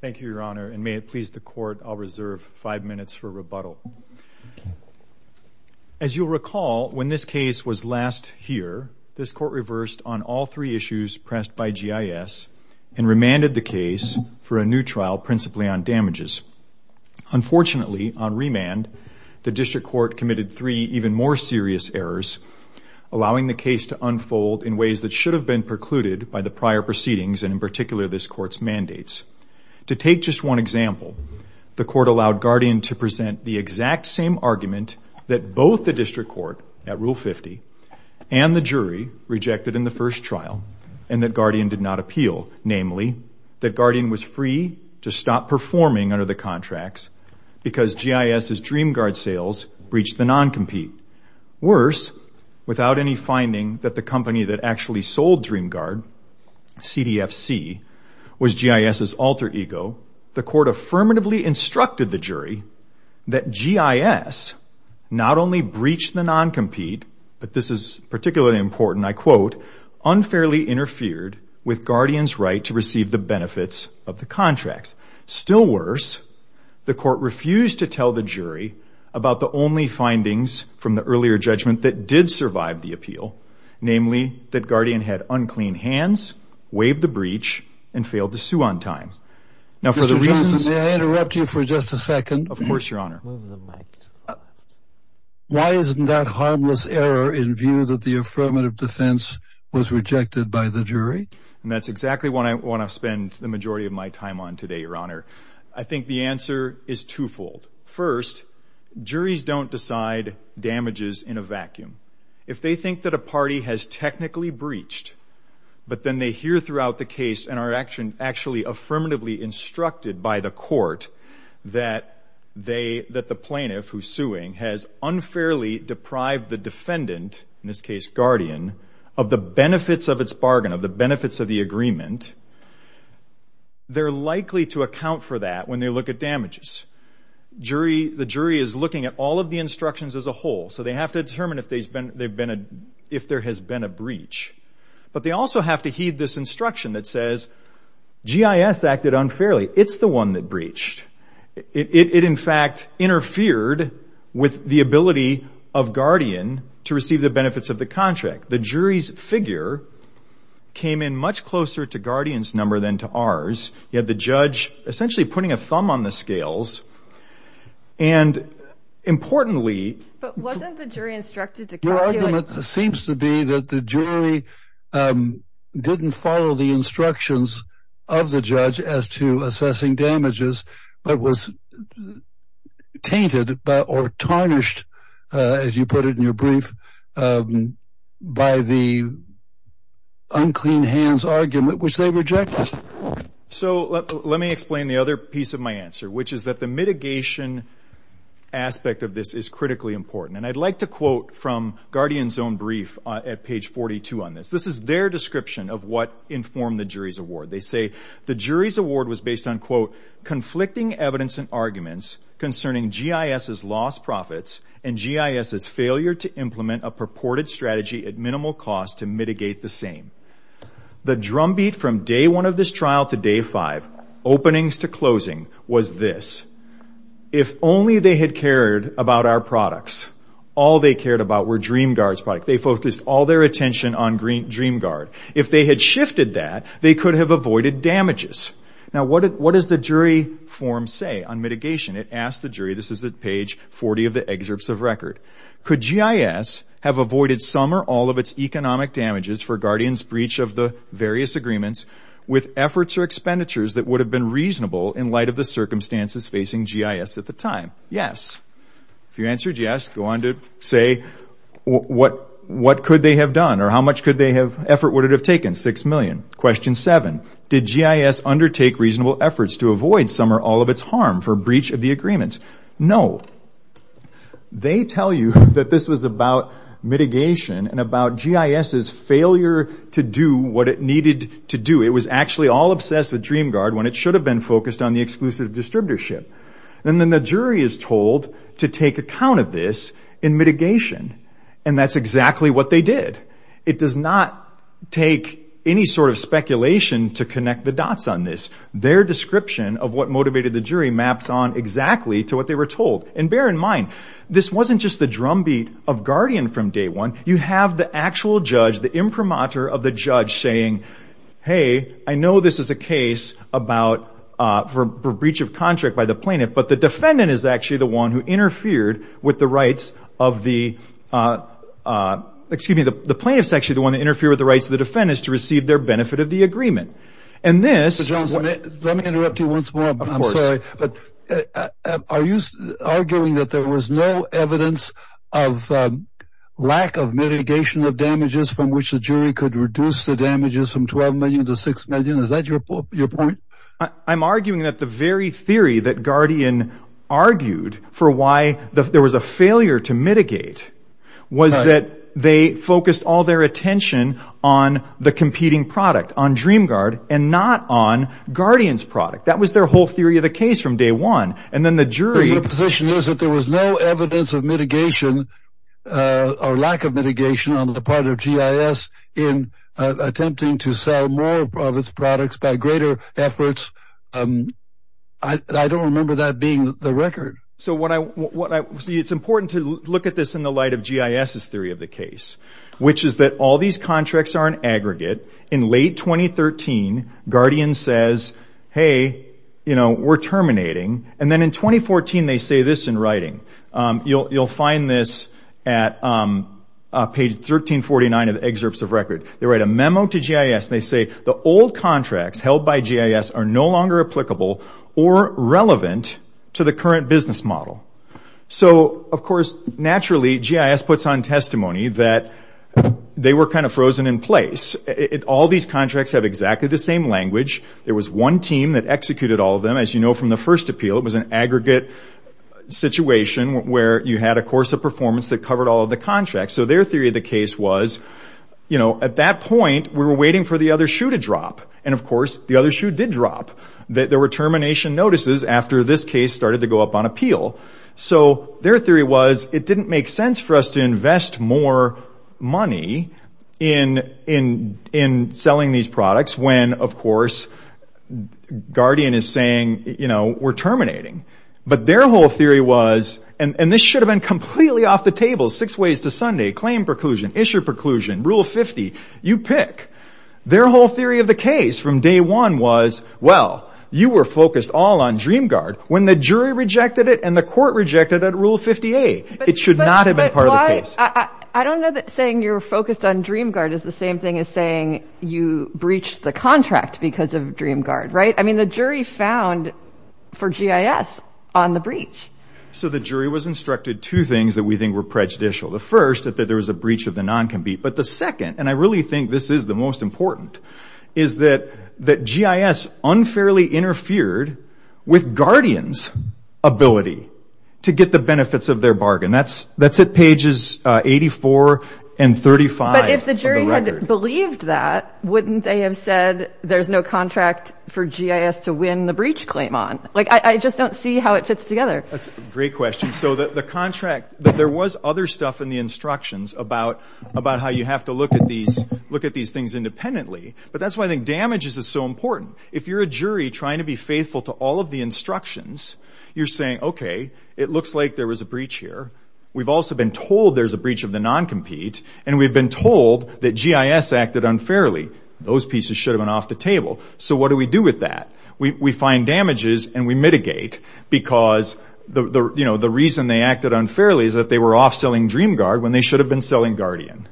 Thank you, Your Honor, and may it please the Court, I'll reserve five minutes for rebuttal. As you'll recall, when this case was last here, this Court reversed on all three issues pressed by GIS and remanded the case for a new trial principally on damages. Unfortunately, on remand, the District Court committed three even more serious errors, allowing the case to unfold in ways that should have been precluded by the prior proceedings and in particular this Court's mandates. To take just one example, the Court allowed Guardian to present the exact same argument that both the District Court at Rule 50 and the jury rejected in the first trial and that Guardian did not appeal, namely, that Guardian was free to stop performing under the contracts because GIS's DreamGuard sales breached the non-compete. Worse, without any finding that the company that actually sold DreamGuard, CDFC, was GIS's alter ego, the Court affirmatively instructed the jury that GIS not only breached the non-compete, but this is particularly important, I quote, unfairly interfered with Guardian's right to receive the benefits of the contracts. Still worse, the Court refused to tell the jury about the only findings from the earlier judgment that did survive the appeal, namely, that Guardian had unclean hands, waived the breach, and failed to sue on time. Now, for the reasons... Mr. Johnson, may I interrupt you for just a second? Of course, Your Honor. Move the mic. Why isn't that harmless error in view that the affirmative defense was rejected by the jury? And that's exactly what I want to spend the majority of my time on today, Your Honor. I think the answer is twofold. First, juries don't decide damages in a vacuum. If they think that a party has technically breached, but then they hear throughout the case and are actually affirmatively instructed by the Court that the plaintiff who's suing has unfairly deprived the defendant, in this case, Guardian, of the benefits of its bargain, of the benefits of the agreement, they're likely to account for that when they look at damages. The jury is looking at all of the instructions as a whole, so they have to determine if there has been a breach. But they also have to heed this instruction that says GIS acted unfairly. It's the one that breached. It in fact interfered with the ability of Guardian to receive the benefits of the contract. The jury's figure came in much closer to Guardian's number than to ours. You had the judge essentially putting a thumb on the scales. And importantly... But wasn't the jury instructed to calculate... Your argument seems to be that the jury didn't follow the instructions of the judge as to by the unclean hands argument, which they rejected. So let me explain the other piece of my answer, which is that the mitigation aspect of this is critically important. And I'd like to quote from Guardian's own brief at page 42 on this. This is their description of what informed the jury's award. They say the jury's award was based on, quote, conflicting evidence and arguments concerning GIS's lost profits and GIS's failure to implement a purported strategy at minimal cost to mitigate the same. The drumbeat from day one of this trial to day five, openings to closing, was this. If only they had cared about our products. All they cared about were DreamGuard's products. They focused all their attention on DreamGuard. If they had shifted that, they could have avoided damages. Now what does the jury form say on mitigation? It asks the jury, this is at page 40 of the excerpts of record, could GIS have avoided some or all of its economic damages for Guardian's breach of the various agreements with efforts or expenditures that would have been reasonable in light of the circumstances facing GIS at the time? Yes. If you answered yes, go on to say what could they have done or how much could they have, effort would it have taken? Six million. Question seven, did GIS undertake reasonable efforts to avoid some or all of its harm for breach of the agreements? No. They tell you that this was about mitigation and about GIS's failure to do what it needed to do. It was actually all obsessed with DreamGuard when it should have been focused on the exclusive distributorship. And then the jury is told to take account of this in mitigation. And that's exactly what they did. It does not take any sort of speculation to connect the dots on this. Their description of what motivated the jury maps on exactly to what they were told. And bear in mind, this wasn't just the drumbeat of Guardian from day one. You have the actual judge, the imprimatur of the judge saying, hey, I know this is a case for breach of contract by the plaintiff, but the defendant is actually the one who interfered with the rights of the, excuse me, the plaintiff is actually the one that interfered with the rights of the defendants to receive their benefit of the agreement. And this, let me interrupt you once more, I'm sorry. But are you arguing that there was no evidence of lack of mitigation of damages from which the jury could reduce the damages from 12 million to 6 million? Is that your point? I'm arguing that the very theory that Guardian argued for why there was a failure to mitigate was that they focused all their attention on the competing product on DreamGuard and not on Guardian's product. That was their whole theory of the case from day one. And then the jury position is that there was no evidence of mitigation or lack of mitigation on the part of G.I.S. in attempting to sell more of its products by greater efforts. I don't remember that being the record. So what I see, it's important to look at this in the light of G.I.S.'s theory of the case, which is that all these contracts are an aggregate. In late 2013, Guardian says, hey, you know, we're terminating. And then in 2014, they say this in writing. You'll find this at page 1349 of the excerpts of record. They write a memo to G.I.S. and they say, the old contracts held by G.I.S. are no longer applicable or relevant to the current business model. So, of course, naturally, G.I.S. puts on testimony that they were kind of frozen in place. All these contracts have exactly the same language. There was one team that executed all of them. As you know from the first appeal, it was an aggregate situation where you had a course of performance that covered all of the contracts. So their theory of the case was, you know, at that point, we were waiting for the other shoe to drop. And, of course, the other shoe did drop. There were termination notices after this case started to go up on appeal. So their theory was, it didn't make sense for us to invest more money in selling these products. When, of course, Guardian is saying, you know, we're terminating. But their whole theory was, and this should have been completely off the table, six ways to Sunday, claim preclusion, issue preclusion, Rule 50, you pick. Their whole theory of the case from day one was, well, you were focused all on DreamGuard when the jury rejected it and the court rejected that Rule 50A. It should not have been part of the case. I don't know that saying you're focused on DreamGuard is the same thing as saying you breached the contract because of DreamGuard, right? I mean, the jury found for GIS on the breach. So the jury was instructed two things that we think were prejudicial. The first, that there was a breach of the non-compete. But the second, and I really think this is the most important, is that GIS unfairly interfered with Guardian's ability to get the benefits of their bargain. That's at pages 84 and 35 of the record. But if the jury had believed that, wouldn't they have said there's no contract for GIS to win the breach claim on? Like, I just don't see how it fits together. That's a great question. So the contract, there was other stuff in the instructions about how you have to look at these things independently. But that's why I think damages is so important. If you're a jury trying to be faithful to all of the instructions, you're saying, okay, it looks like there was a breach here. We've also been told there's a breach of the non-compete. And we've been told that GIS acted unfairly. Those pieces should have been off the table. So what do we do with that? We find damages and we mitigate because the reason they acted unfairly is that they were off selling DreamGuard when they should have been selling Guardian.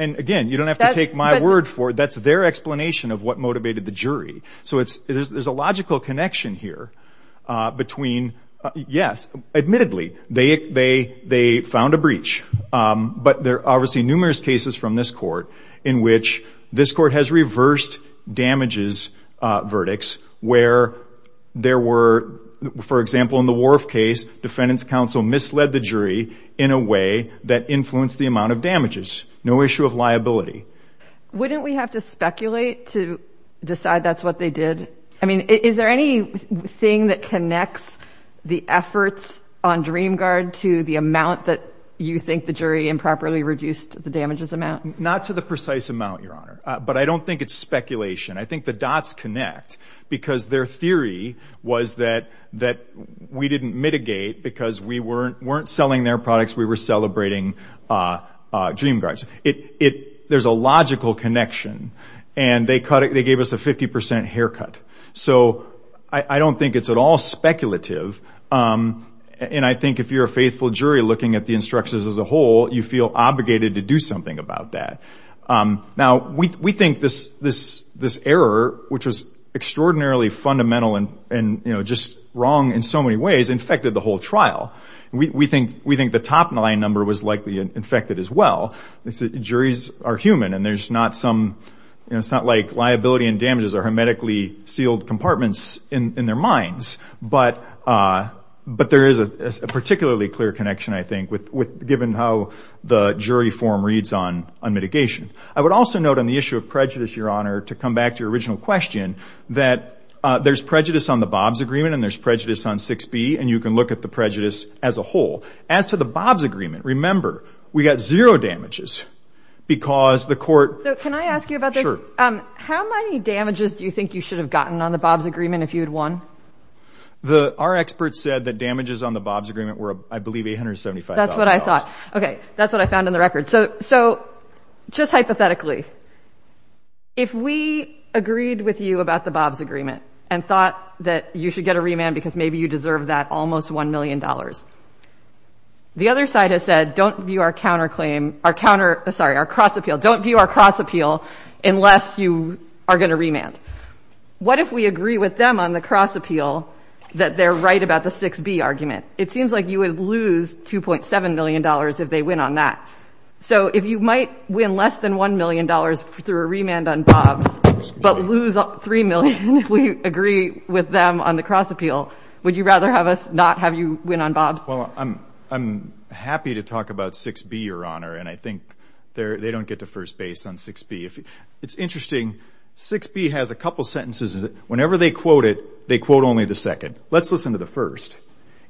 And again, you don't have to take my word for it. That's their explanation of what motivated the jury. So there's a logical connection here between, yes, admittedly, they found a breach. But there are obviously numerous cases from this court in which this court has reversed damages verdicts where there were, for example, in the Worf case, defendant's counsel misled the jury in a way that influenced the amount of damages. No issue of liability. Wouldn't we have to speculate to decide that's what they did? I mean, is there any thing that connects the efforts on DreamGuard to the amount that you think the jury improperly reduced the damages amount? Not to the precise amount, Your Honor. But I don't think it's speculation. I think the dots connect because their theory was that we didn't mitigate because we weren't selling their products. We were celebrating DreamGuards. There's a logical connection. And they cut it. They gave us a 50% haircut. So I don't think it's at all speculative. And I think if you're a faithful jury looking at the instructions as a whole, you feel obligated to do something about that. Now, we think this error, which was extraordinarily fundamental and just wrong in so many ways, infected the whole trial. We think the top nine number was likely infected as well. Juries are human. And it's not like liability and damages are hermetically sealed compartments in their minds. But there is a particularly clear connection, I think, given how the jury form reads on mitigation. I would also note on the issue of prejudice, Your Honor, to come back to your original question, that there's prejudice on the Bob's Agreement and there's prejudice on 6B. And you can look at the prejudice as a whole. As to the Bob's Agreement, remember, we got zero damages because the court... So can I ask you about this? Sure. How many damages do you think you should have gotten on the Bob's Agreement if you had won? Our experts said that damages on the Bob's Agreement were, I believe, $875,000. That's what I thought. Okay. That's what I found in the record. So just hypothetically, if we agreed with you about the Bob's Agreement and thought that you should get a remand because maybe you deserve that almost $1 million, the other side has said, don't view our cross-appeal unless you are going to remand. What if we agree with them on the cross-appeal that they're right about the 6B argument? It seems like you would lose $2.7 million if they win on that. So if you might win less than $1 million through a remand on Bob's, but lose $3 million if we agree with them on the cross-appeal, would you rather have us not have you win on Bob's? I'm happy to talk about 6B, Your Honor, and I think they don't get to first base on 6B. It's interesting, 6B has a couple sentences. Whenever they quote it, they quote only the second. Let's listen to the first.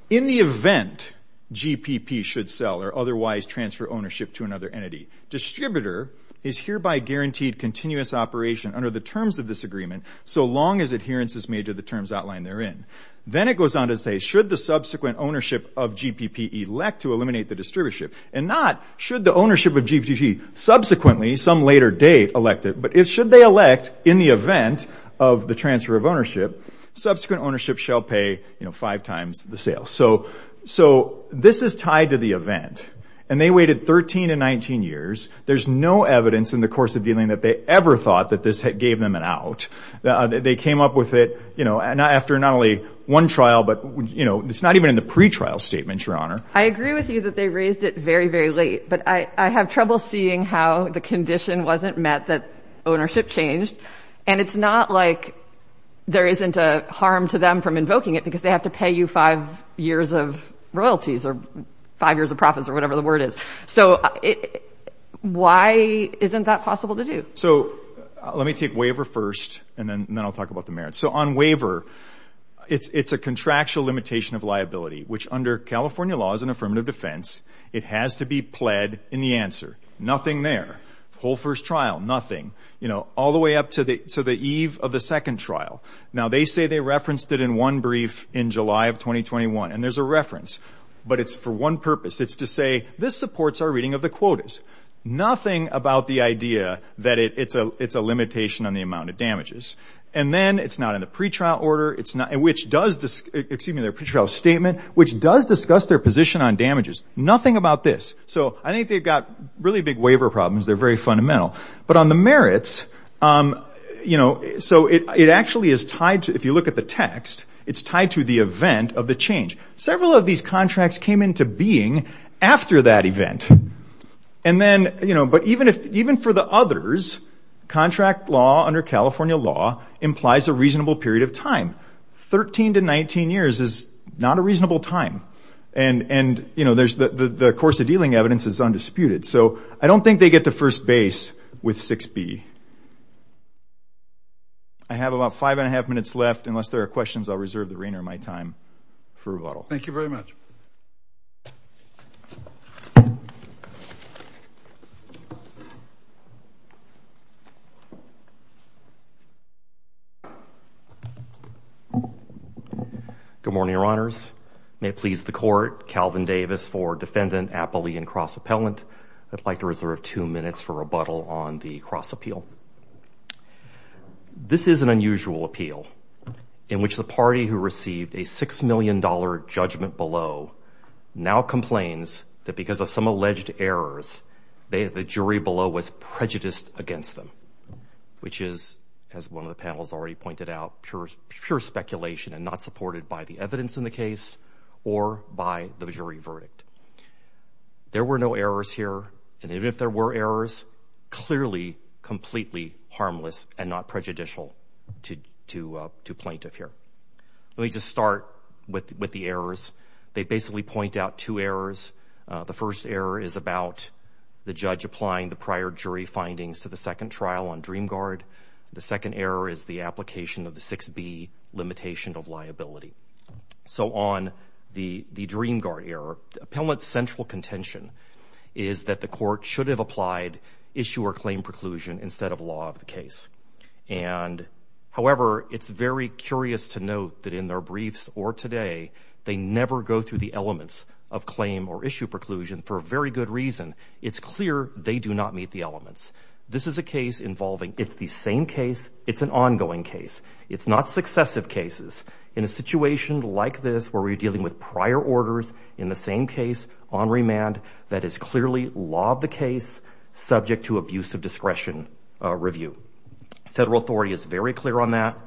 In the event GPP should sell or otherwise transfer ownership to another entity, distributor is hereby guaranteed continuous operation under the terms of this agreement so long as adherence is made to the terms outlined therein. Then it goes on to say, should the subsequent ownership of GPP elect to eliminate the distributorship? And not should the ownership of GPP subsequently, some later date, elect it, but should they elect in the event of the transfer of ownership, subsequent ownership shall pay five times the sale. So this is tied to the event. And they waited 13 to 19 years. There's no evidence in the course of dealing that they ever thought that this gave them an out. They came up with it after not only one trial, but it's not even in the pretrial statement, Your Honor. I agree with you that they raised it very, very late, but I have trouble seeing how the condition wasn't met that ownership changed. And it's not like there isn't a harm to them from invoking it because they have to pay you five years of royalties or five years of profits or whatever the word is. So why isn't that possible to do? So let me take waiver first and then I'll talk about the merits. So on waiver, it's a contractual limitation of liability, which under California laws and affirmative defense, it has to be pled in the answer. Nothing there. Whole first trial, nothing, you know, all the way up to the eve of the second trial. Now, they say they referenced it in one brief in July of 2021. And there's a reference, but it's for one purpose. It's to say this supports our reading of the quotas. Nothing about the idea that it's a limitation on the amount of damages. And then it's not in the pretrial order, which does, excuse me, their pretrial statement, which does discuss their position on damages. Nothing about this. So I think they've got really big waiver problems. They're very fundamental. But on the merits, you know, so it actually is tied to, if you look at the text, it's tied to the event of the change. Several of these contracts came into being after that event. And then, you know, but even if even for the others, contract law under California law implies a reasonable period of time. 13 to 19 years is not a reasonable time. And, you know, there's the course of dealing evidence is undisputed. So I don't think they get to first base with 6B. I have about five and a half minutes left. Unless there are questions, I'll reserve the reigner of my time for a while. Thank you very much. Good morning, Your Honors. May it please the Court. Calvin Davis for Defendant Appley and Cross Appellant. I'd like to reserve two minutes for rebuttal on the cross appeal. This is an unusual appeal in which the party who received a $6 million judgment below now complains that because of some alleged errors, the jury below was prejudiced against them, which is, as one of the panels already pointed out, pure speculation and not supported by the evidence in the case or by the jury verdict. There were no errors here. And even if there were errors, clearly, completely harmless and not prejudicial to plaintiff here. Let me just start with the errors. They basically point out two errors. The first error is about the judge applying the prior jury findings to the second trial on Dream Guard. The second error is the application of the 6B limitation of liability. So on the Dream Guard error, the appellant's central contention is that the court should have applied issue or claim preclusion instead of law of the case. And, however, it's very curious to note that in their briefs or today, they never go through the elements of claim or issue preclusion for a very good reason. It's clear they do not meet the elements. This is a case involving, it's the same case, it's an ongoing case. It's not successive cases. In a situation like this where we're dealing with prior orders in the same case on remand, that is clearly law of the case subject to abuse of discretion review. Federal authority is very clear on that.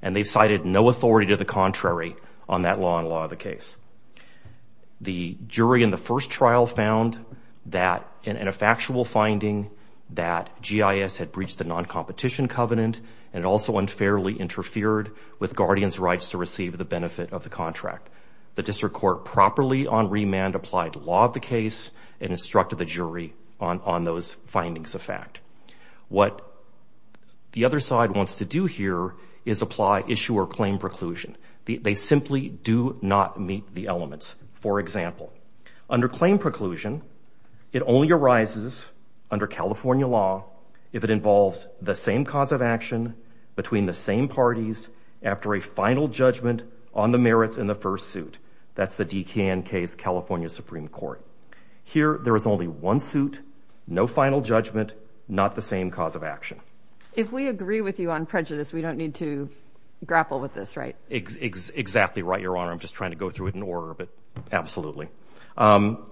And they've cited no authority to the contrary on that law and law of the case. The jury in the first trial found that in a factual finding that GIS had breached the benefit of the contract. The district court properly on remand applied law of the case and instructed the jury on those findings of fact. What the other side wants to do here is apply issue or claim preclusion. They simply do not meet the elements. For example, under claim preclusion, it only arises under California law if it involves the same cause of action between the same parties after a final judgment on the merits in the first suit. That's the DKN case, California Supreme Court. Here, there is only one suit, no final judgment, not the same cause of action. If we agree with you on prejudice, we don't need to grapple with this, right? Exactly right, Your Honor. I'm just trying to go through it in order, but absolutely.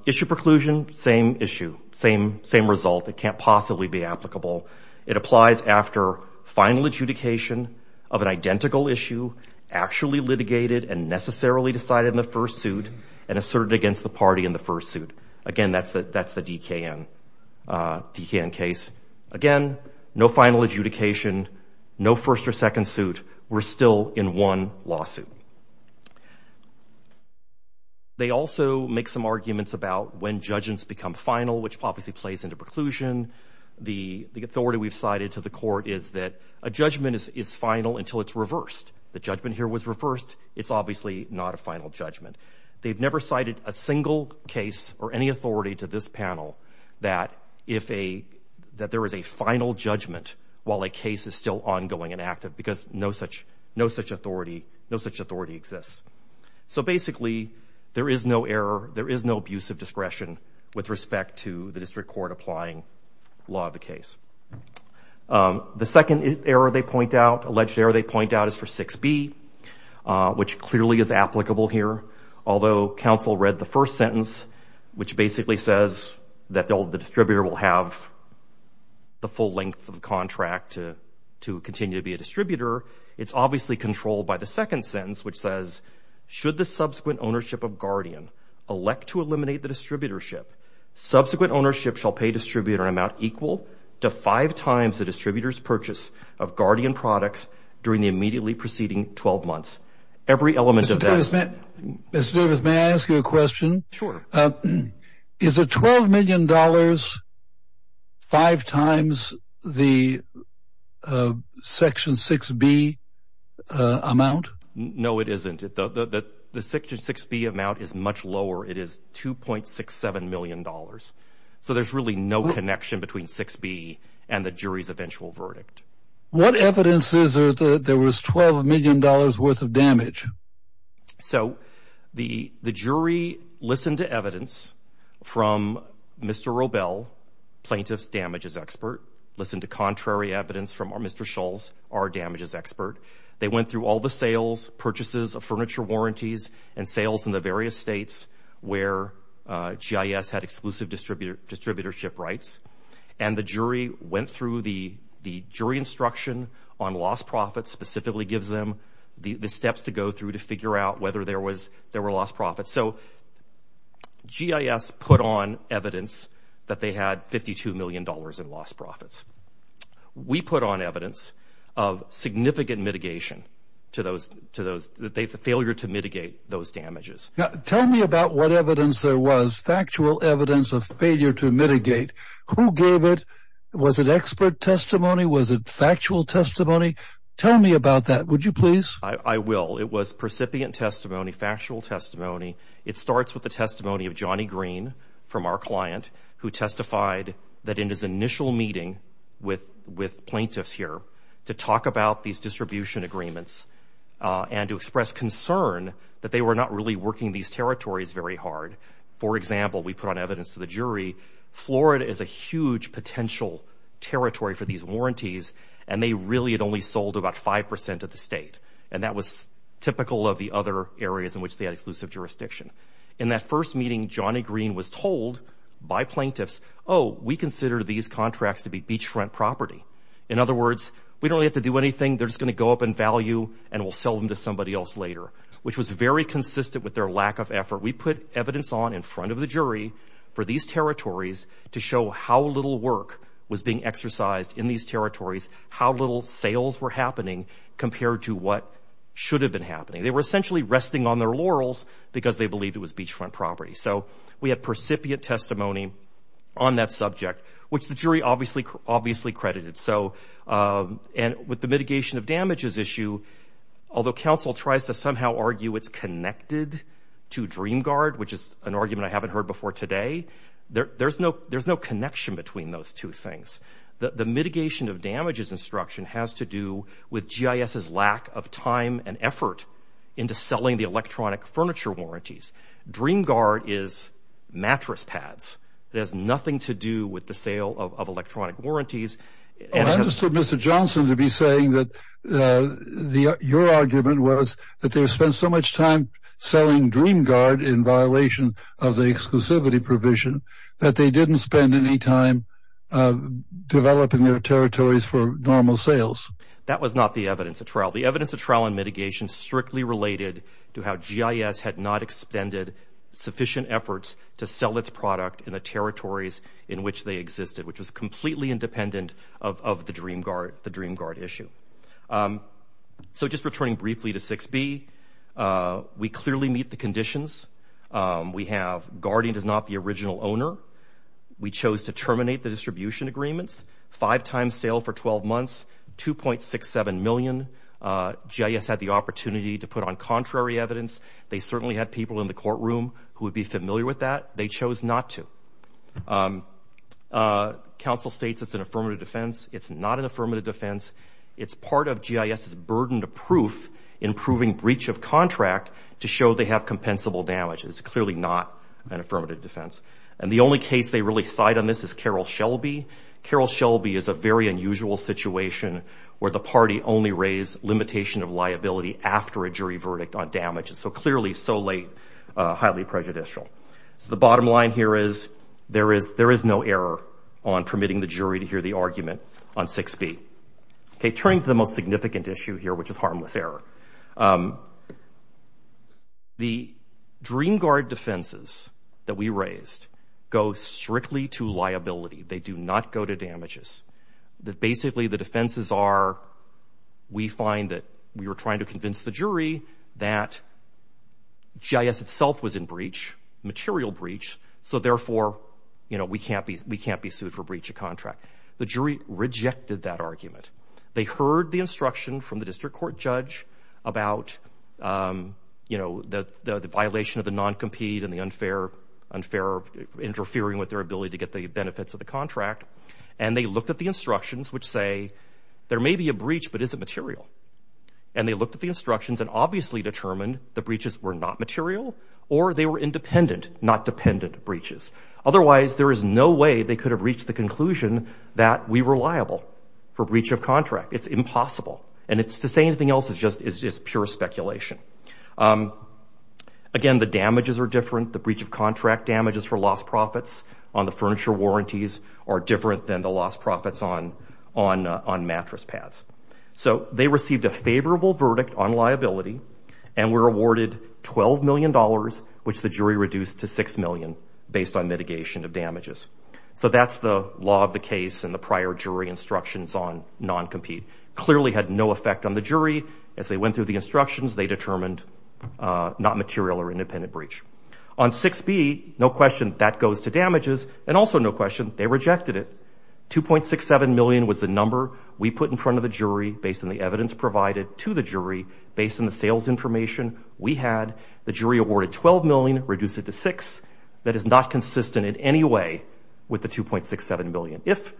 Issue preclusion, same issue, same result. It can't possibly be applicable. It applies after final adjudication of an identical issue, actually litigated and necessarily decided in the first suit and asserted against the party in the first suit. Again, that's the DKN case. Again, no final adjudication, no first or second suit. We're still in one lawsuit. They also make some arguments about when judgments become final, which obviously plays into preclusion. The authority we've cited to the court is that a judgment is final until it's reversed. The judgment here was reversed. It's obviously not a final judgment. They've never cited a single case or any authority to this panel that there is a final judgment while a case is still ongoing and active because no such authority exists. So basically, there is no error. with respect to the district court applying law of the case. The second error they point out, alleged error they point out, is for 6B, which clearly is applicable here. Although counsel read the first sentence, which basically says that the distributor will have the full length of the contract to continue to be a distributor, it's obviously controlled by the second sentence, which says, Should the subsequent ownership of Guardian elect to eliminate the distributorship? Subsequent ownership shall pay distributor amount equal to five times the distributor's purchase of Guardian products during the immediately preceding 12 months. Mr. Davis, may I ask you a question? Sure. Is a $12 million five times the Section 6B amount? No, it isn't. The Section 6B amount is much lower. It is $2.67 million. So there's really no connection between 6B and the jury's eventual verdict. What evidence is there that there was $12 million worth of damage? So the jury listened to evidence from Mr. Robel, plaintiff's damages expert, listened to contrary evidence from Mr. Schultz, our damages expert. They went through all the sales, purchases of furniture warranties, and sales in the various states where GIS had exclusive distributorship rights. And the jury went through the jury instruction on lost profits, specifically gives them the steps to go through to figure out whether there were lost profits. So GIS put on evidence that they had $52 million in lost profits. We put on evidence of significant mitigation to failure to mitigate those damages. Now, tell me about what evidence there was, factual evidence of failure to mitigate. Who gave it? Was it expert testimony? Was it factual testimony? Tell me about that, would you please? I will. It was precipient testimony, factual testimony. It starts with the testimony of Johnny Green from our client, who testified that in his initial meeting with plaintiffs here to talk about these distribution agreements and to express concern that they were not really working these territories very hard. For example, we put on evidence to the jury, Florida is a huge potential territory for these warranties, and they really had only sold about 5% of the state. And that was typical of the other areas in which they had exclusive jurisdiction. In that first meeting, Johnny Green was told by plaintiffs, oh, we consider these contracts to be beachfront property. In other words, we don't have to do anything, they're just going to go up in value and we'll sell them to somebody else later, which was very consistent with their lack of effort. We put evidence on in front of the jury for these territories to show how little work was being exercised in these territories, how little sales were happening compared to what should have been happening. They were essentially resting on their laurels because they believed it was beachfront property. So we had percipient testimony on that subject, which the jury obviously credited. And with the mitigation of damages issue, although counsel tries to somehow argue it's connected to DreamGuard, which is an argument I haven't heard before today, there's no connection between those two things. The mitigation of damages instruction has to do with GIS's lack of time and effort into selling the electronic furniture warranties. DreamGuard is mattress pads. It has nothing to do with the sale of electronic warranties. I understood Mr. Johnson to be saying that your argument was that they spent so much time selling DreamGuard in violation of the exclusivity provision that they didn't spend any time developing their territories for normal sales. That was not the evidence of trial. The evidence of trial and mitigation strictly related to how GIS had not expended sufficient efforts to sell its product in the territories in which they existed, which was completely independent of the DreamGuard issue. So just returning briefly to 6b, we clearly meet the conditions. We have Guardian does not the original owner. We chose to terminate the distribution agreements. Five times sale for 12 months, 2.67 million. GIS had the opportunity to put on contrary evidence. They certainly had people in the courtroom who would be familiar with that. They chose not to. Council states it's an affirmative defense. It's not an affirmative defense. It's part of GIS's burden to proof in proving breach of contract to show they have compensable damage. It's clearly not an affirmative defense. And the only case they really side on this is Carroll Shelby. Carroll Shelby is a very unusual situation where the party only raised limitation of liability after a jury verdict on damages. So clearly so late, highly prejudicial. So the bottom line here is there is no error on permitting the jury to hear the argument on 6b. Okay, turning to the most significant issue here, which is harmless error. The DreamGuard defenses that we raised go strictly to liability. They do not go to damages. That basically the defenses are, we find that we were trying to convince the jury that GIS itself was in breach, material breach. So therefore, you know, we can't be sued for breach of contract. The jury rejected that argument. They heard the instruction from the district court judge about, you know, the violation of the non-compete and the unfair interfering with their ability to get the benefits of the contract. And they looked at the instructions, which say, there may be a breach, but is it material? And they looked at the instructions and obviously determined the breaches were not material or they were independent, not dependent breaches. Otherwise, there is no way they could have reached the conclusion that we were liable for breach of contract. It's impossible. And it's the same thing else is just pure speculation. Again, the damages are different. The breach of contract damages for lost profits on the furniture warranties are different than the lost profits on mattress pads. So they received a favorable verdict on liability and were awarded $12 million, which the jury reduced to 6 million based on mitigation of damages. So that's the law of the case and the prior jury instructions on non-compete clearly had no effect on the jury. As they went through the instructions, they determined not material or independent breach. On 6B, no question that goes to damages and also no question they rejected it. 2.67 million was the number we put in front of the jury based on the evidence provided to the jury based on the sales information we had. The jury awarded 12 million, reduced it to 6. That is not consistent in any way with the 2.67 million. If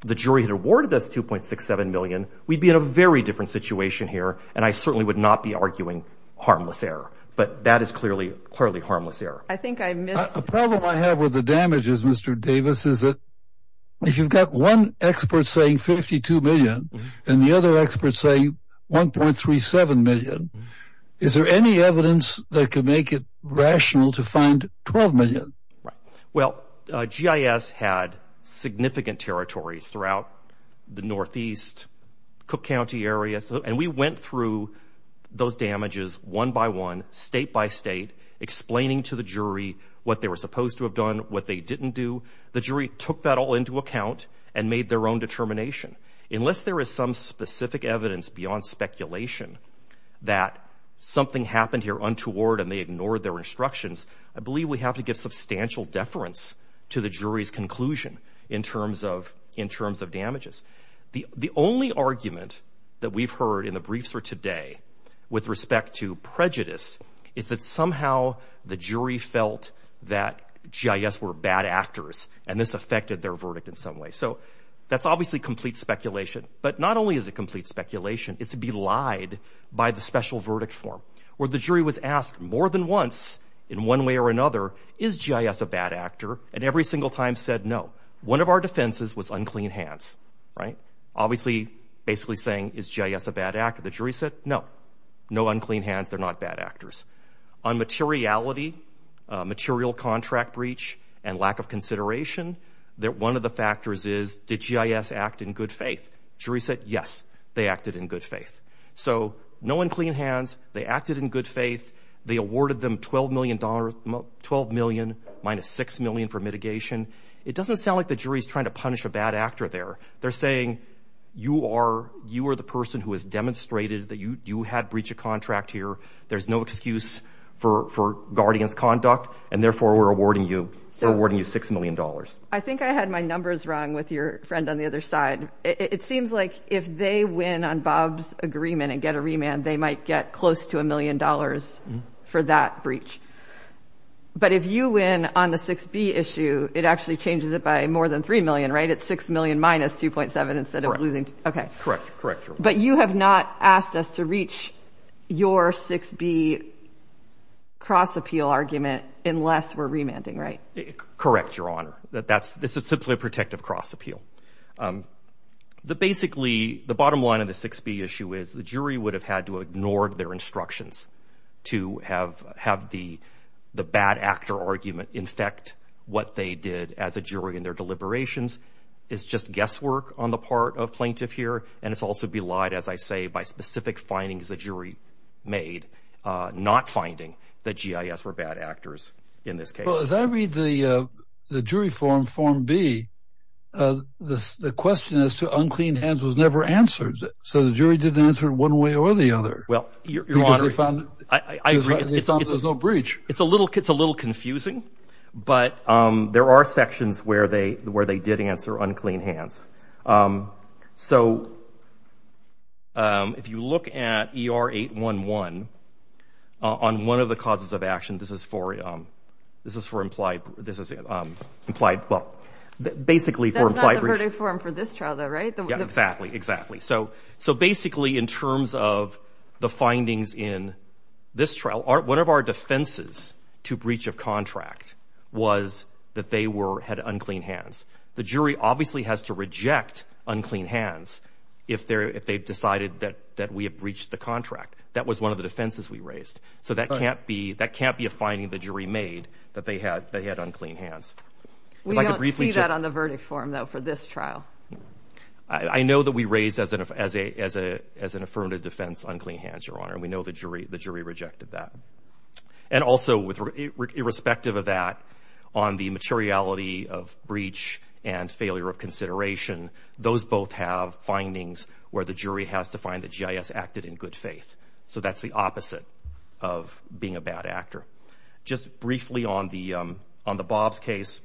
the jury had awarded us 2.67 million, we'd be in a very different situation here and I certainly would not be arguing harmless error. But that is clearly harmless error. I think I missed... A problem I have with the damages, Mr. Davis, is that if you've got one expert saying 52 million and the other experts saying 1.37 million, is there any evidence that could make it rational to find 12 million? Well, GIS had significant territories throughout the Northeast, Cook County area. And we went through those damages one by one state by state explaining to the jury what they were supposed to have done, what they didn't do. The jury took that all into account and made their own determination. Unless there is some specific evidence beyond speculation that something happened here untoward and they ignored their instructions, I believe we have to give substantial deference to the jury's conclusion in terms of damages. The only argument that we've heard in the briefs for today with respect to prejudice is that somehow the jury felt that GIS were bad actors and this affected their verdict in some way. So that's obviously complete speculation. But not only is it complete speculation, it's belied by the special verdict form where the jury was asked more than once in one way or another, is GIS a bad actor? And every single time said no. One of our defenses was unclean hands, right? Obviously, basically saying, is GIS a bad actor? The jury said, no. No unclean hands, they're not bad actors. On materiality, material contract breach and lack of consideration, that one of the factors is, did GIS act in good faith? Jury said, yes, they acted in good faith. So no unclean hands, they acted in good faith. They awarded them $12 million minus $6 million for mitigation. It doesn't sound like the jury's trying to punish a bad actor there. They're saying, you are the person who has demonstrated that you had breached a contract here. There's no excuse for guardians conduct. And therefore, we're awarding you $6 million. I think I had my numbers wrong with your friend on the other side. It seems like if they win on Bob's agreement and get a remand, they might get close to a million dollars for that breach. But if you win on the 6B issue, it actually changes it by more than 3 million, right? It's 6 million minus 2.7 instead of losing. Okay. Correct, correct. But you have not asked us to reach your 6B cross appeal argument unless we're remanding, right? Correct, your honor. That that's, this is simply a protective cross appeal. The basically, the bottom line of the 6B issue is the jury would have had to ignore their instructions to have the bad actor argument infect what they did as a jury in their deliberations. It's just guesswork on the part of plaintiff here. And it's also belied, as I say, by specific findings the jury made, not finding that GIS were bad actors in this case. Well, as I read the jury form, form B, the question as to unclean hands was never answered. So the jury didn't answer it one way or the other. Well, your honor, I agree. Because they found there's no breach. It's a little confusing, but there are sections where they did answer unclean hands. Um, so, um, if you look at ER 811 on one of the causes of action, this is for, um, this is for implied, this is, um, implied, well, basically for implied breach- That's not the verdict form for this trial though, right? Yeah, exactly, exactly. So, so basically in terms of the findings in this trial, one of our defenses to breach of contract was that they were, had unclean hands. The jury obviously has to reject unclean hands if they're, if they've decided that, that we have breached the contract. That was one of the defenses we raised. So that can't be, that can't be a finding the jury made that they had, they had unclean hands. We don't see that on the verdict form though for this trial. I know that we raised as an, as a, as a, as an affirmative defense, unclean hands, your honor. We know the jury, the jury rejected that. And also with irrespective of that on the materiality of breach and failure of consideration, those both have findings where the jury has to find that GIS acted in good faith. So that's the opposite of being a bad actor. Just briefly on the, um, on the Bob's case,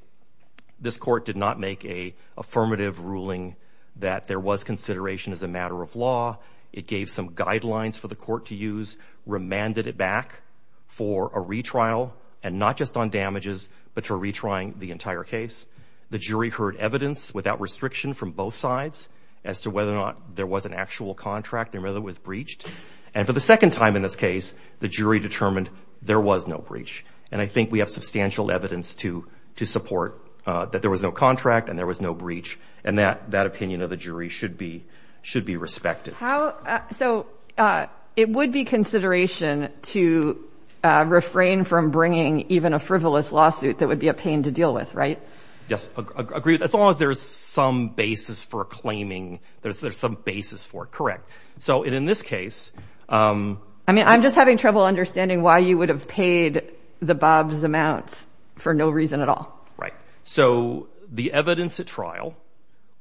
this court did not make a affirmative ruling that there was consideration as a matter of law. It gave some guidelines for the court to use, remanded it back for a retrial, and not just on damages, but for retrying the entire case. The jury heard evidence without restriction from both sides as to whether or not there was an actual contract and whether it was breached. And for the second time in this case, the jury determined there was no breach. And I think we have substantial evidence to, to support that there was no contract and there was no breach. And that, that opinion of the jury should be, should be respected. So, uh, it would be consideration to, uh, refrain from bringing even a frivolous lawsuit that would be a pain to deal with, right? Yes, agreed. As long as there's some basis for claiming there's, there's some basis for correct. So in, in this case, um. I mean, I'm just having trouble understanding why you would have paid the Bob's amounts for no reason at all. Right. So the evidence at trial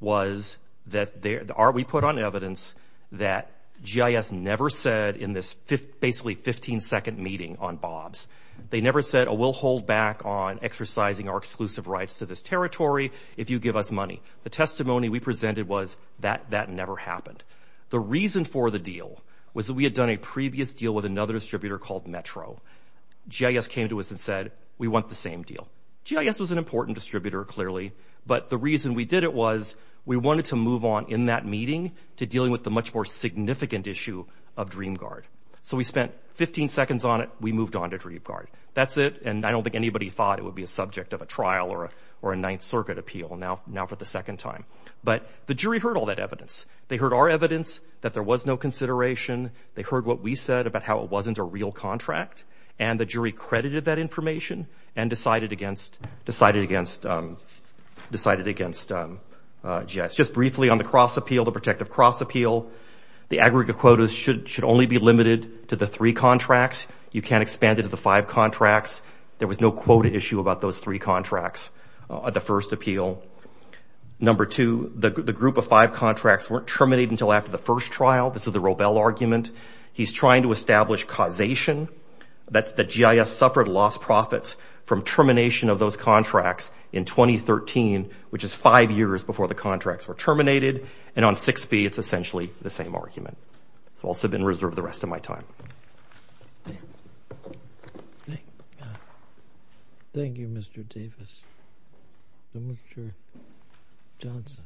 was that there, we put on evidence that GIS never said in this fifth, basically 15 second meeting on Bob's, they never said, oh, we'll hold back on exercising our exclusive rights to this territory. If you give us money, the testimony we presented was that that never happened. The reason for the deal was that we had done a previous deal with another distributor called Metro. GIS came to us and said, we want the same deal. GIS was an important distributor clearly, but the reason we did it was we wanted to move on in that meeting to dealing with the much more significant issue of DreamGuard. So we spent 15 seconds on it. We moved on to DreamGuard. That's it. And I don't think anybody thought it would be a subject of a trial or a, or a ninth circuit appeal. Now, now for the second time, but the jury heard all that evidence. They heard our evidence that there was no consideration. They heard what we said about how it wasn't a real contract. And the jury credited that information and decided against, decided against, um, decided against, um, uh, just briefly on the cross appeal, the protective cross appeal, the aggregate quotas should, should only be limited to the three contracts. You can't expand it to the five contracts. There was no quota issue about those three contracts at the first appeal. Number two, the group of five contracts weren't terminated until after the first trial. This is the Robel argument. He's trying to establish causation. That's the GIS suffered lost profits from termination of those contracts in 2013, which is five years before the contracts were terminated. And on six feet, it's essentially the same argument. It's also been reserved the rest of my time. Thank you, Mr. Davis, Mr. Johnson.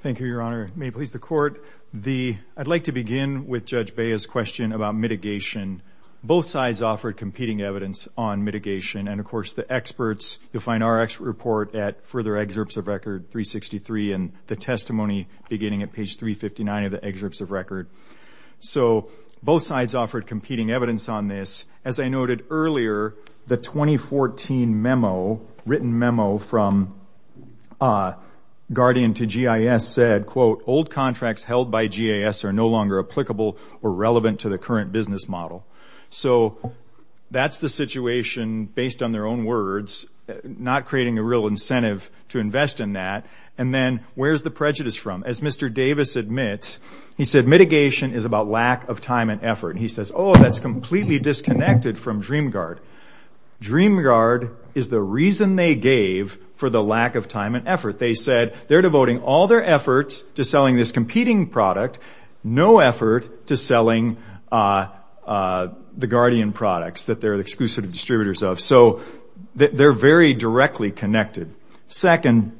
Thank you, Your Honor. May it please the court. The, I'd like to begin with judge Bayer's question about mitigation. Both sides offered competing evidence on mitigation. And of course the experts you'll find our expert report at further excerpts of record three 63 and the testimony beginning at page 359 of the excerpts of record. So both sides offered competing evidence on this. As I noted earlier, the 2014 memo, written memo from a guardian to GIS said, quote, old contracts held by GIS are no longer applicable or relevant to the current business model. So that's the situation based on their own words, not creating a real incentive to invest in that. And then where's the prejudice from? As Mr. Davis admits, he said, mitigation is about lack of time and effort. And he says, oh, that's completely disconnected from DreamGuard. DreamGuard is the reason they gave for the lack of time and effort. They said they're devoting all their efforts to selling this competing product, no effort to selling the guardian products that they're exclusive distributors of. So they're very directly connected. Second,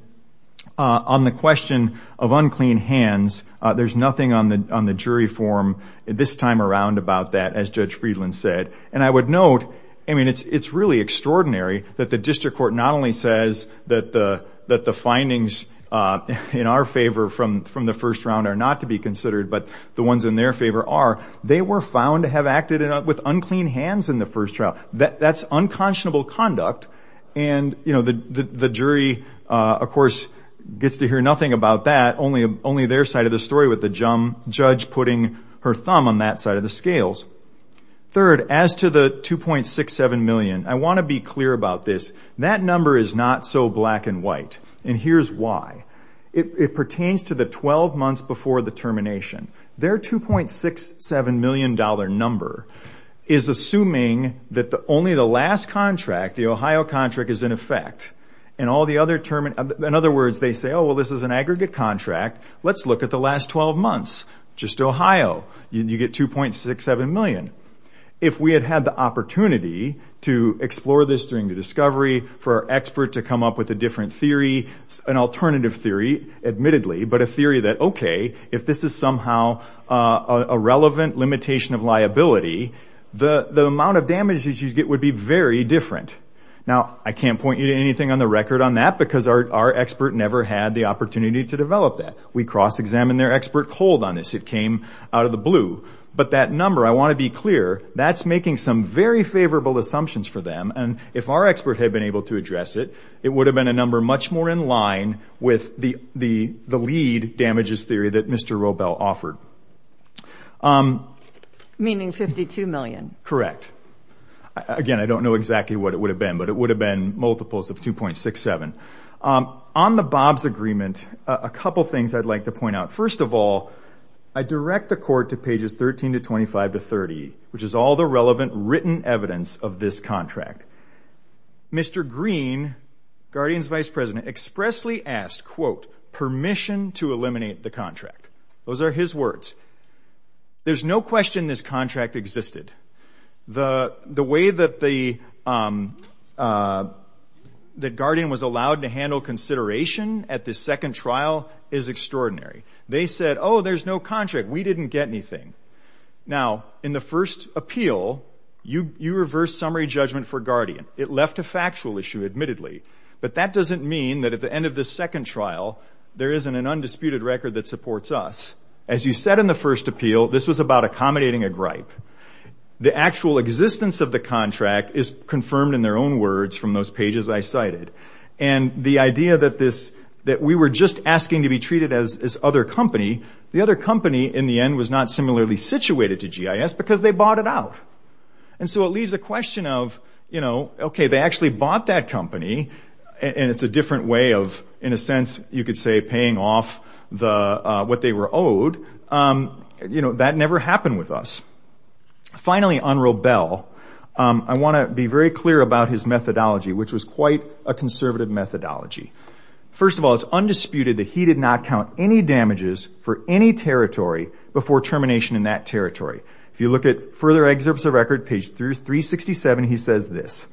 on the question of unclean hands, there's nothing on the jury form this time around about that, as Judge Friedland said. And I would note, I mean, it's really extraordinary that the district court not only says that the findings in our favor from the first round are not to be considered, but the ones in their favor are, they were found to have acted with unclean hands in the first trial. That's unconscionable conduct. And the jury, of course, gets to hear nothing about that, only their side of the story with the judge putting her thumb on that side of the scales. Third, as to the $2.67 million, I want to be clear about this. That number is not so black and white. And here's why. It pertains to the 12 months before the termination. Their $2.67 million number is assuming that only the last contract, the Ohio contract, is in effect. In other words, they say, oh, well, this is an aggregate contract. Let's look at the last 12 months, just Ohio. You get $2.67 million. If we had had the opportunity to explore this during the discovery, for our expert to come up with a different theory, an alternative theory, admittedly, but a theory that, okay, if this is somehow a relevant limitation of liability, the amount of damages you'd get would be very different. Now, I can't point you to anything on the record on that because our expert never had the opportunity to develop that. We cross-examined their expert hold on this. It came out of the blue. But that number, I want to be clear, that's making some very favorable assumptions for them. And if our expert had been able to address it, it would have been a number much more in line with the lead damages theory that Mr. Robel offered. Meaning 52 million. Correct. Again, I don't know exactly what it would have been, but it would have been multiples of 2.67. On the Bob's agreement, a couple of things I'd like to point out. First of all, I direct the court to pages 13 to 25 to 30, which is all the relevant written evidence of this contract. Mr. Green, Guardian's vice president, expressly asked, quote, permission to eliminate the contract. Those are his words. There's no question this contract existed. The way that Guardian was allowed to handle consideration at the second trial is extraordinary. They said, oh, there's no contract. We didn't get anything. Now, in the first appeal, you reversed summary judgment for Guardian. It left a factual issue, admittedly. But that doesn't mean that at the end of the second trial, there isn't an undisputed record that supports us. As you said in the first appeal, this was about accommodating a gripe. The actual existence of the contract is confirmed in their own words from those pages I cited. And the idea that we were just asking to be treated as this other company, the other company, in the end, was not similarly situated to GIS because they bought it out. And so it leaves a question of, you know, OK, they actually bought that company. And it's a different way of, in a sense, you could say paying off what they were owed. That never happened with us. Finally, Unruh Bell. I want to be very clear about his methodology, which was quite a conservative methodology. First of all, it's undisputed that he did not count any damages for any territory before termination in that territory. If you look at further excerpts of record, page 367, he says this.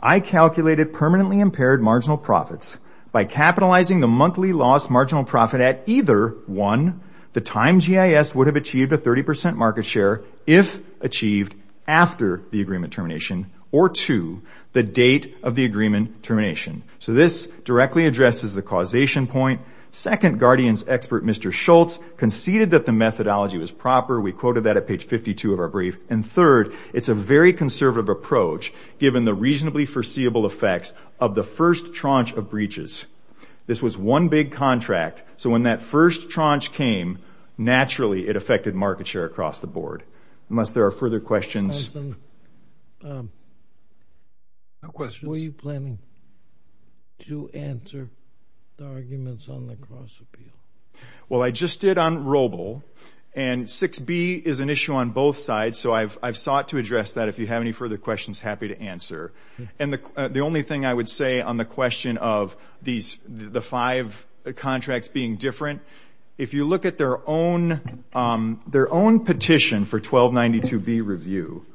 I calculated permanently impaired marginal profits by capitalizing the monthly lost marginal profit at either, one, the time GIS would have achieved a 30% market share if achieved after the agreement termination, or two, the date of the agreement termination. So this directly addresses the causation point. Second, Guardian's expert, Mr. Schultz, conceded that the methodology was proper. We quoted that at page 52 of our brief. And third, it's a very conservative approach given the reasonably foreseeable effects of the first tranche of breaches. This was one big contract. So when that first tranche came, naturally, it affected market share across the board. Unless there are further questions. Hanson, were you planning to answer the arguments on the cross-appeal? Well, I just did on Robul. And 6b is an issue on both sides. So I've sought to address that. If you have any further questions, happy to answer. And the only thing I would say on the question of the five contracts being different, if you look at their own petition for 1292b review,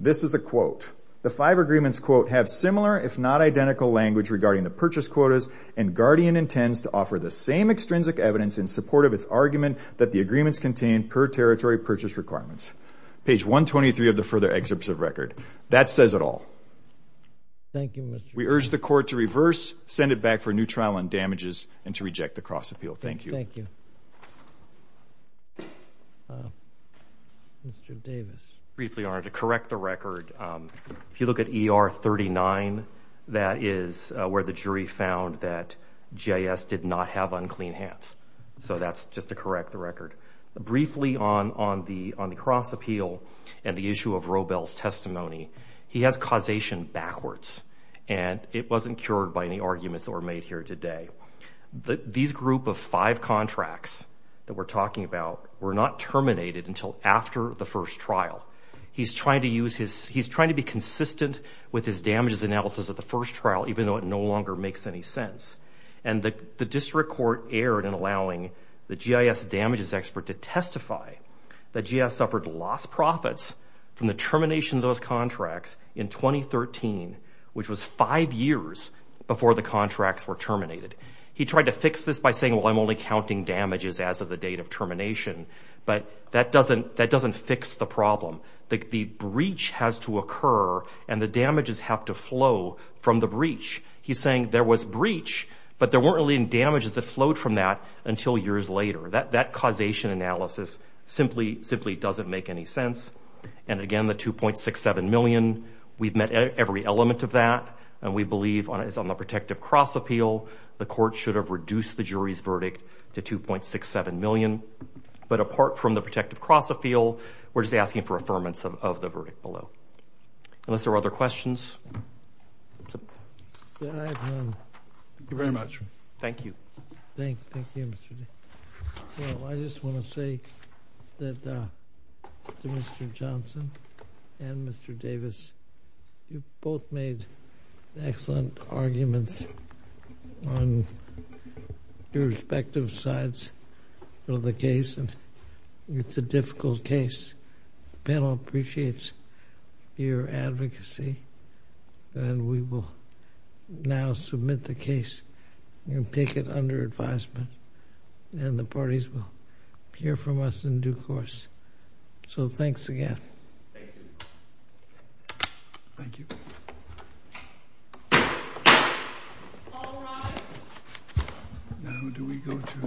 this is a quote. The five agreements, quote, have similar if not identical language regarding the purchase quotas, and Guardian intends to offer the same extrinsic evidence in support of its argument that the agreements contain per territory purchase requirements. Page 123 of the further excerpts of record. That says it all. Thank you, Mr. We urge the court to reverse, send it back for a new trial on damages, and to reject the cross-appeal. Thank you. Thank you. Mr. Davis. Briefly, in order to correct the record, if you look at ER 39, that is where the jury found that GIS did not have unclean hands. So that's just to correct the record. Briefly on the cross-appeal and the issue of Robel's testimony, he has causation backwards, and it wasn't cured by any arguments that were made here today. These group of five contracts that we're talking about were not terminated until after the first trial. He's trying to use his, he's trying to be consistent with his damages analysis at the first trial, even though it no longer makes any sense. And the district court erred in allowing the GIS damages expert to testify that GIS suffered lost profits from the termination of those contracts in 2013, which was five years before the contracts were terminated. He tried to fix this by saying, well, I'm only counting damages as of the date of termination, but that doesn't fix the problem. The breach has to occur and the damages have to flow from the breach. He's saying there was breach, but there weren't any damages that flowed from that until years later. That causation analysis simply doesn't make any sense. And again, the $2.67 million, we've met every element of that. And we believe on the protective cross appeal, the court should have reduced the jury's verdict to $2.67 million. But apart from the protective cross appeal, we're just asking for affirmance of the verdict below. Unless there are other questions. Thank you very much. Thank you. I just want to say that Mr. Johnson and Mr. Davis, you've both made excellent arguments on your respective sides of the case. And it's a difficult case. The panel appreciates your advocacy and we will now submit the case and take it under advisement. And the parties will hear from us in due course. So thanks again. Thank you. Now do we go to the voting?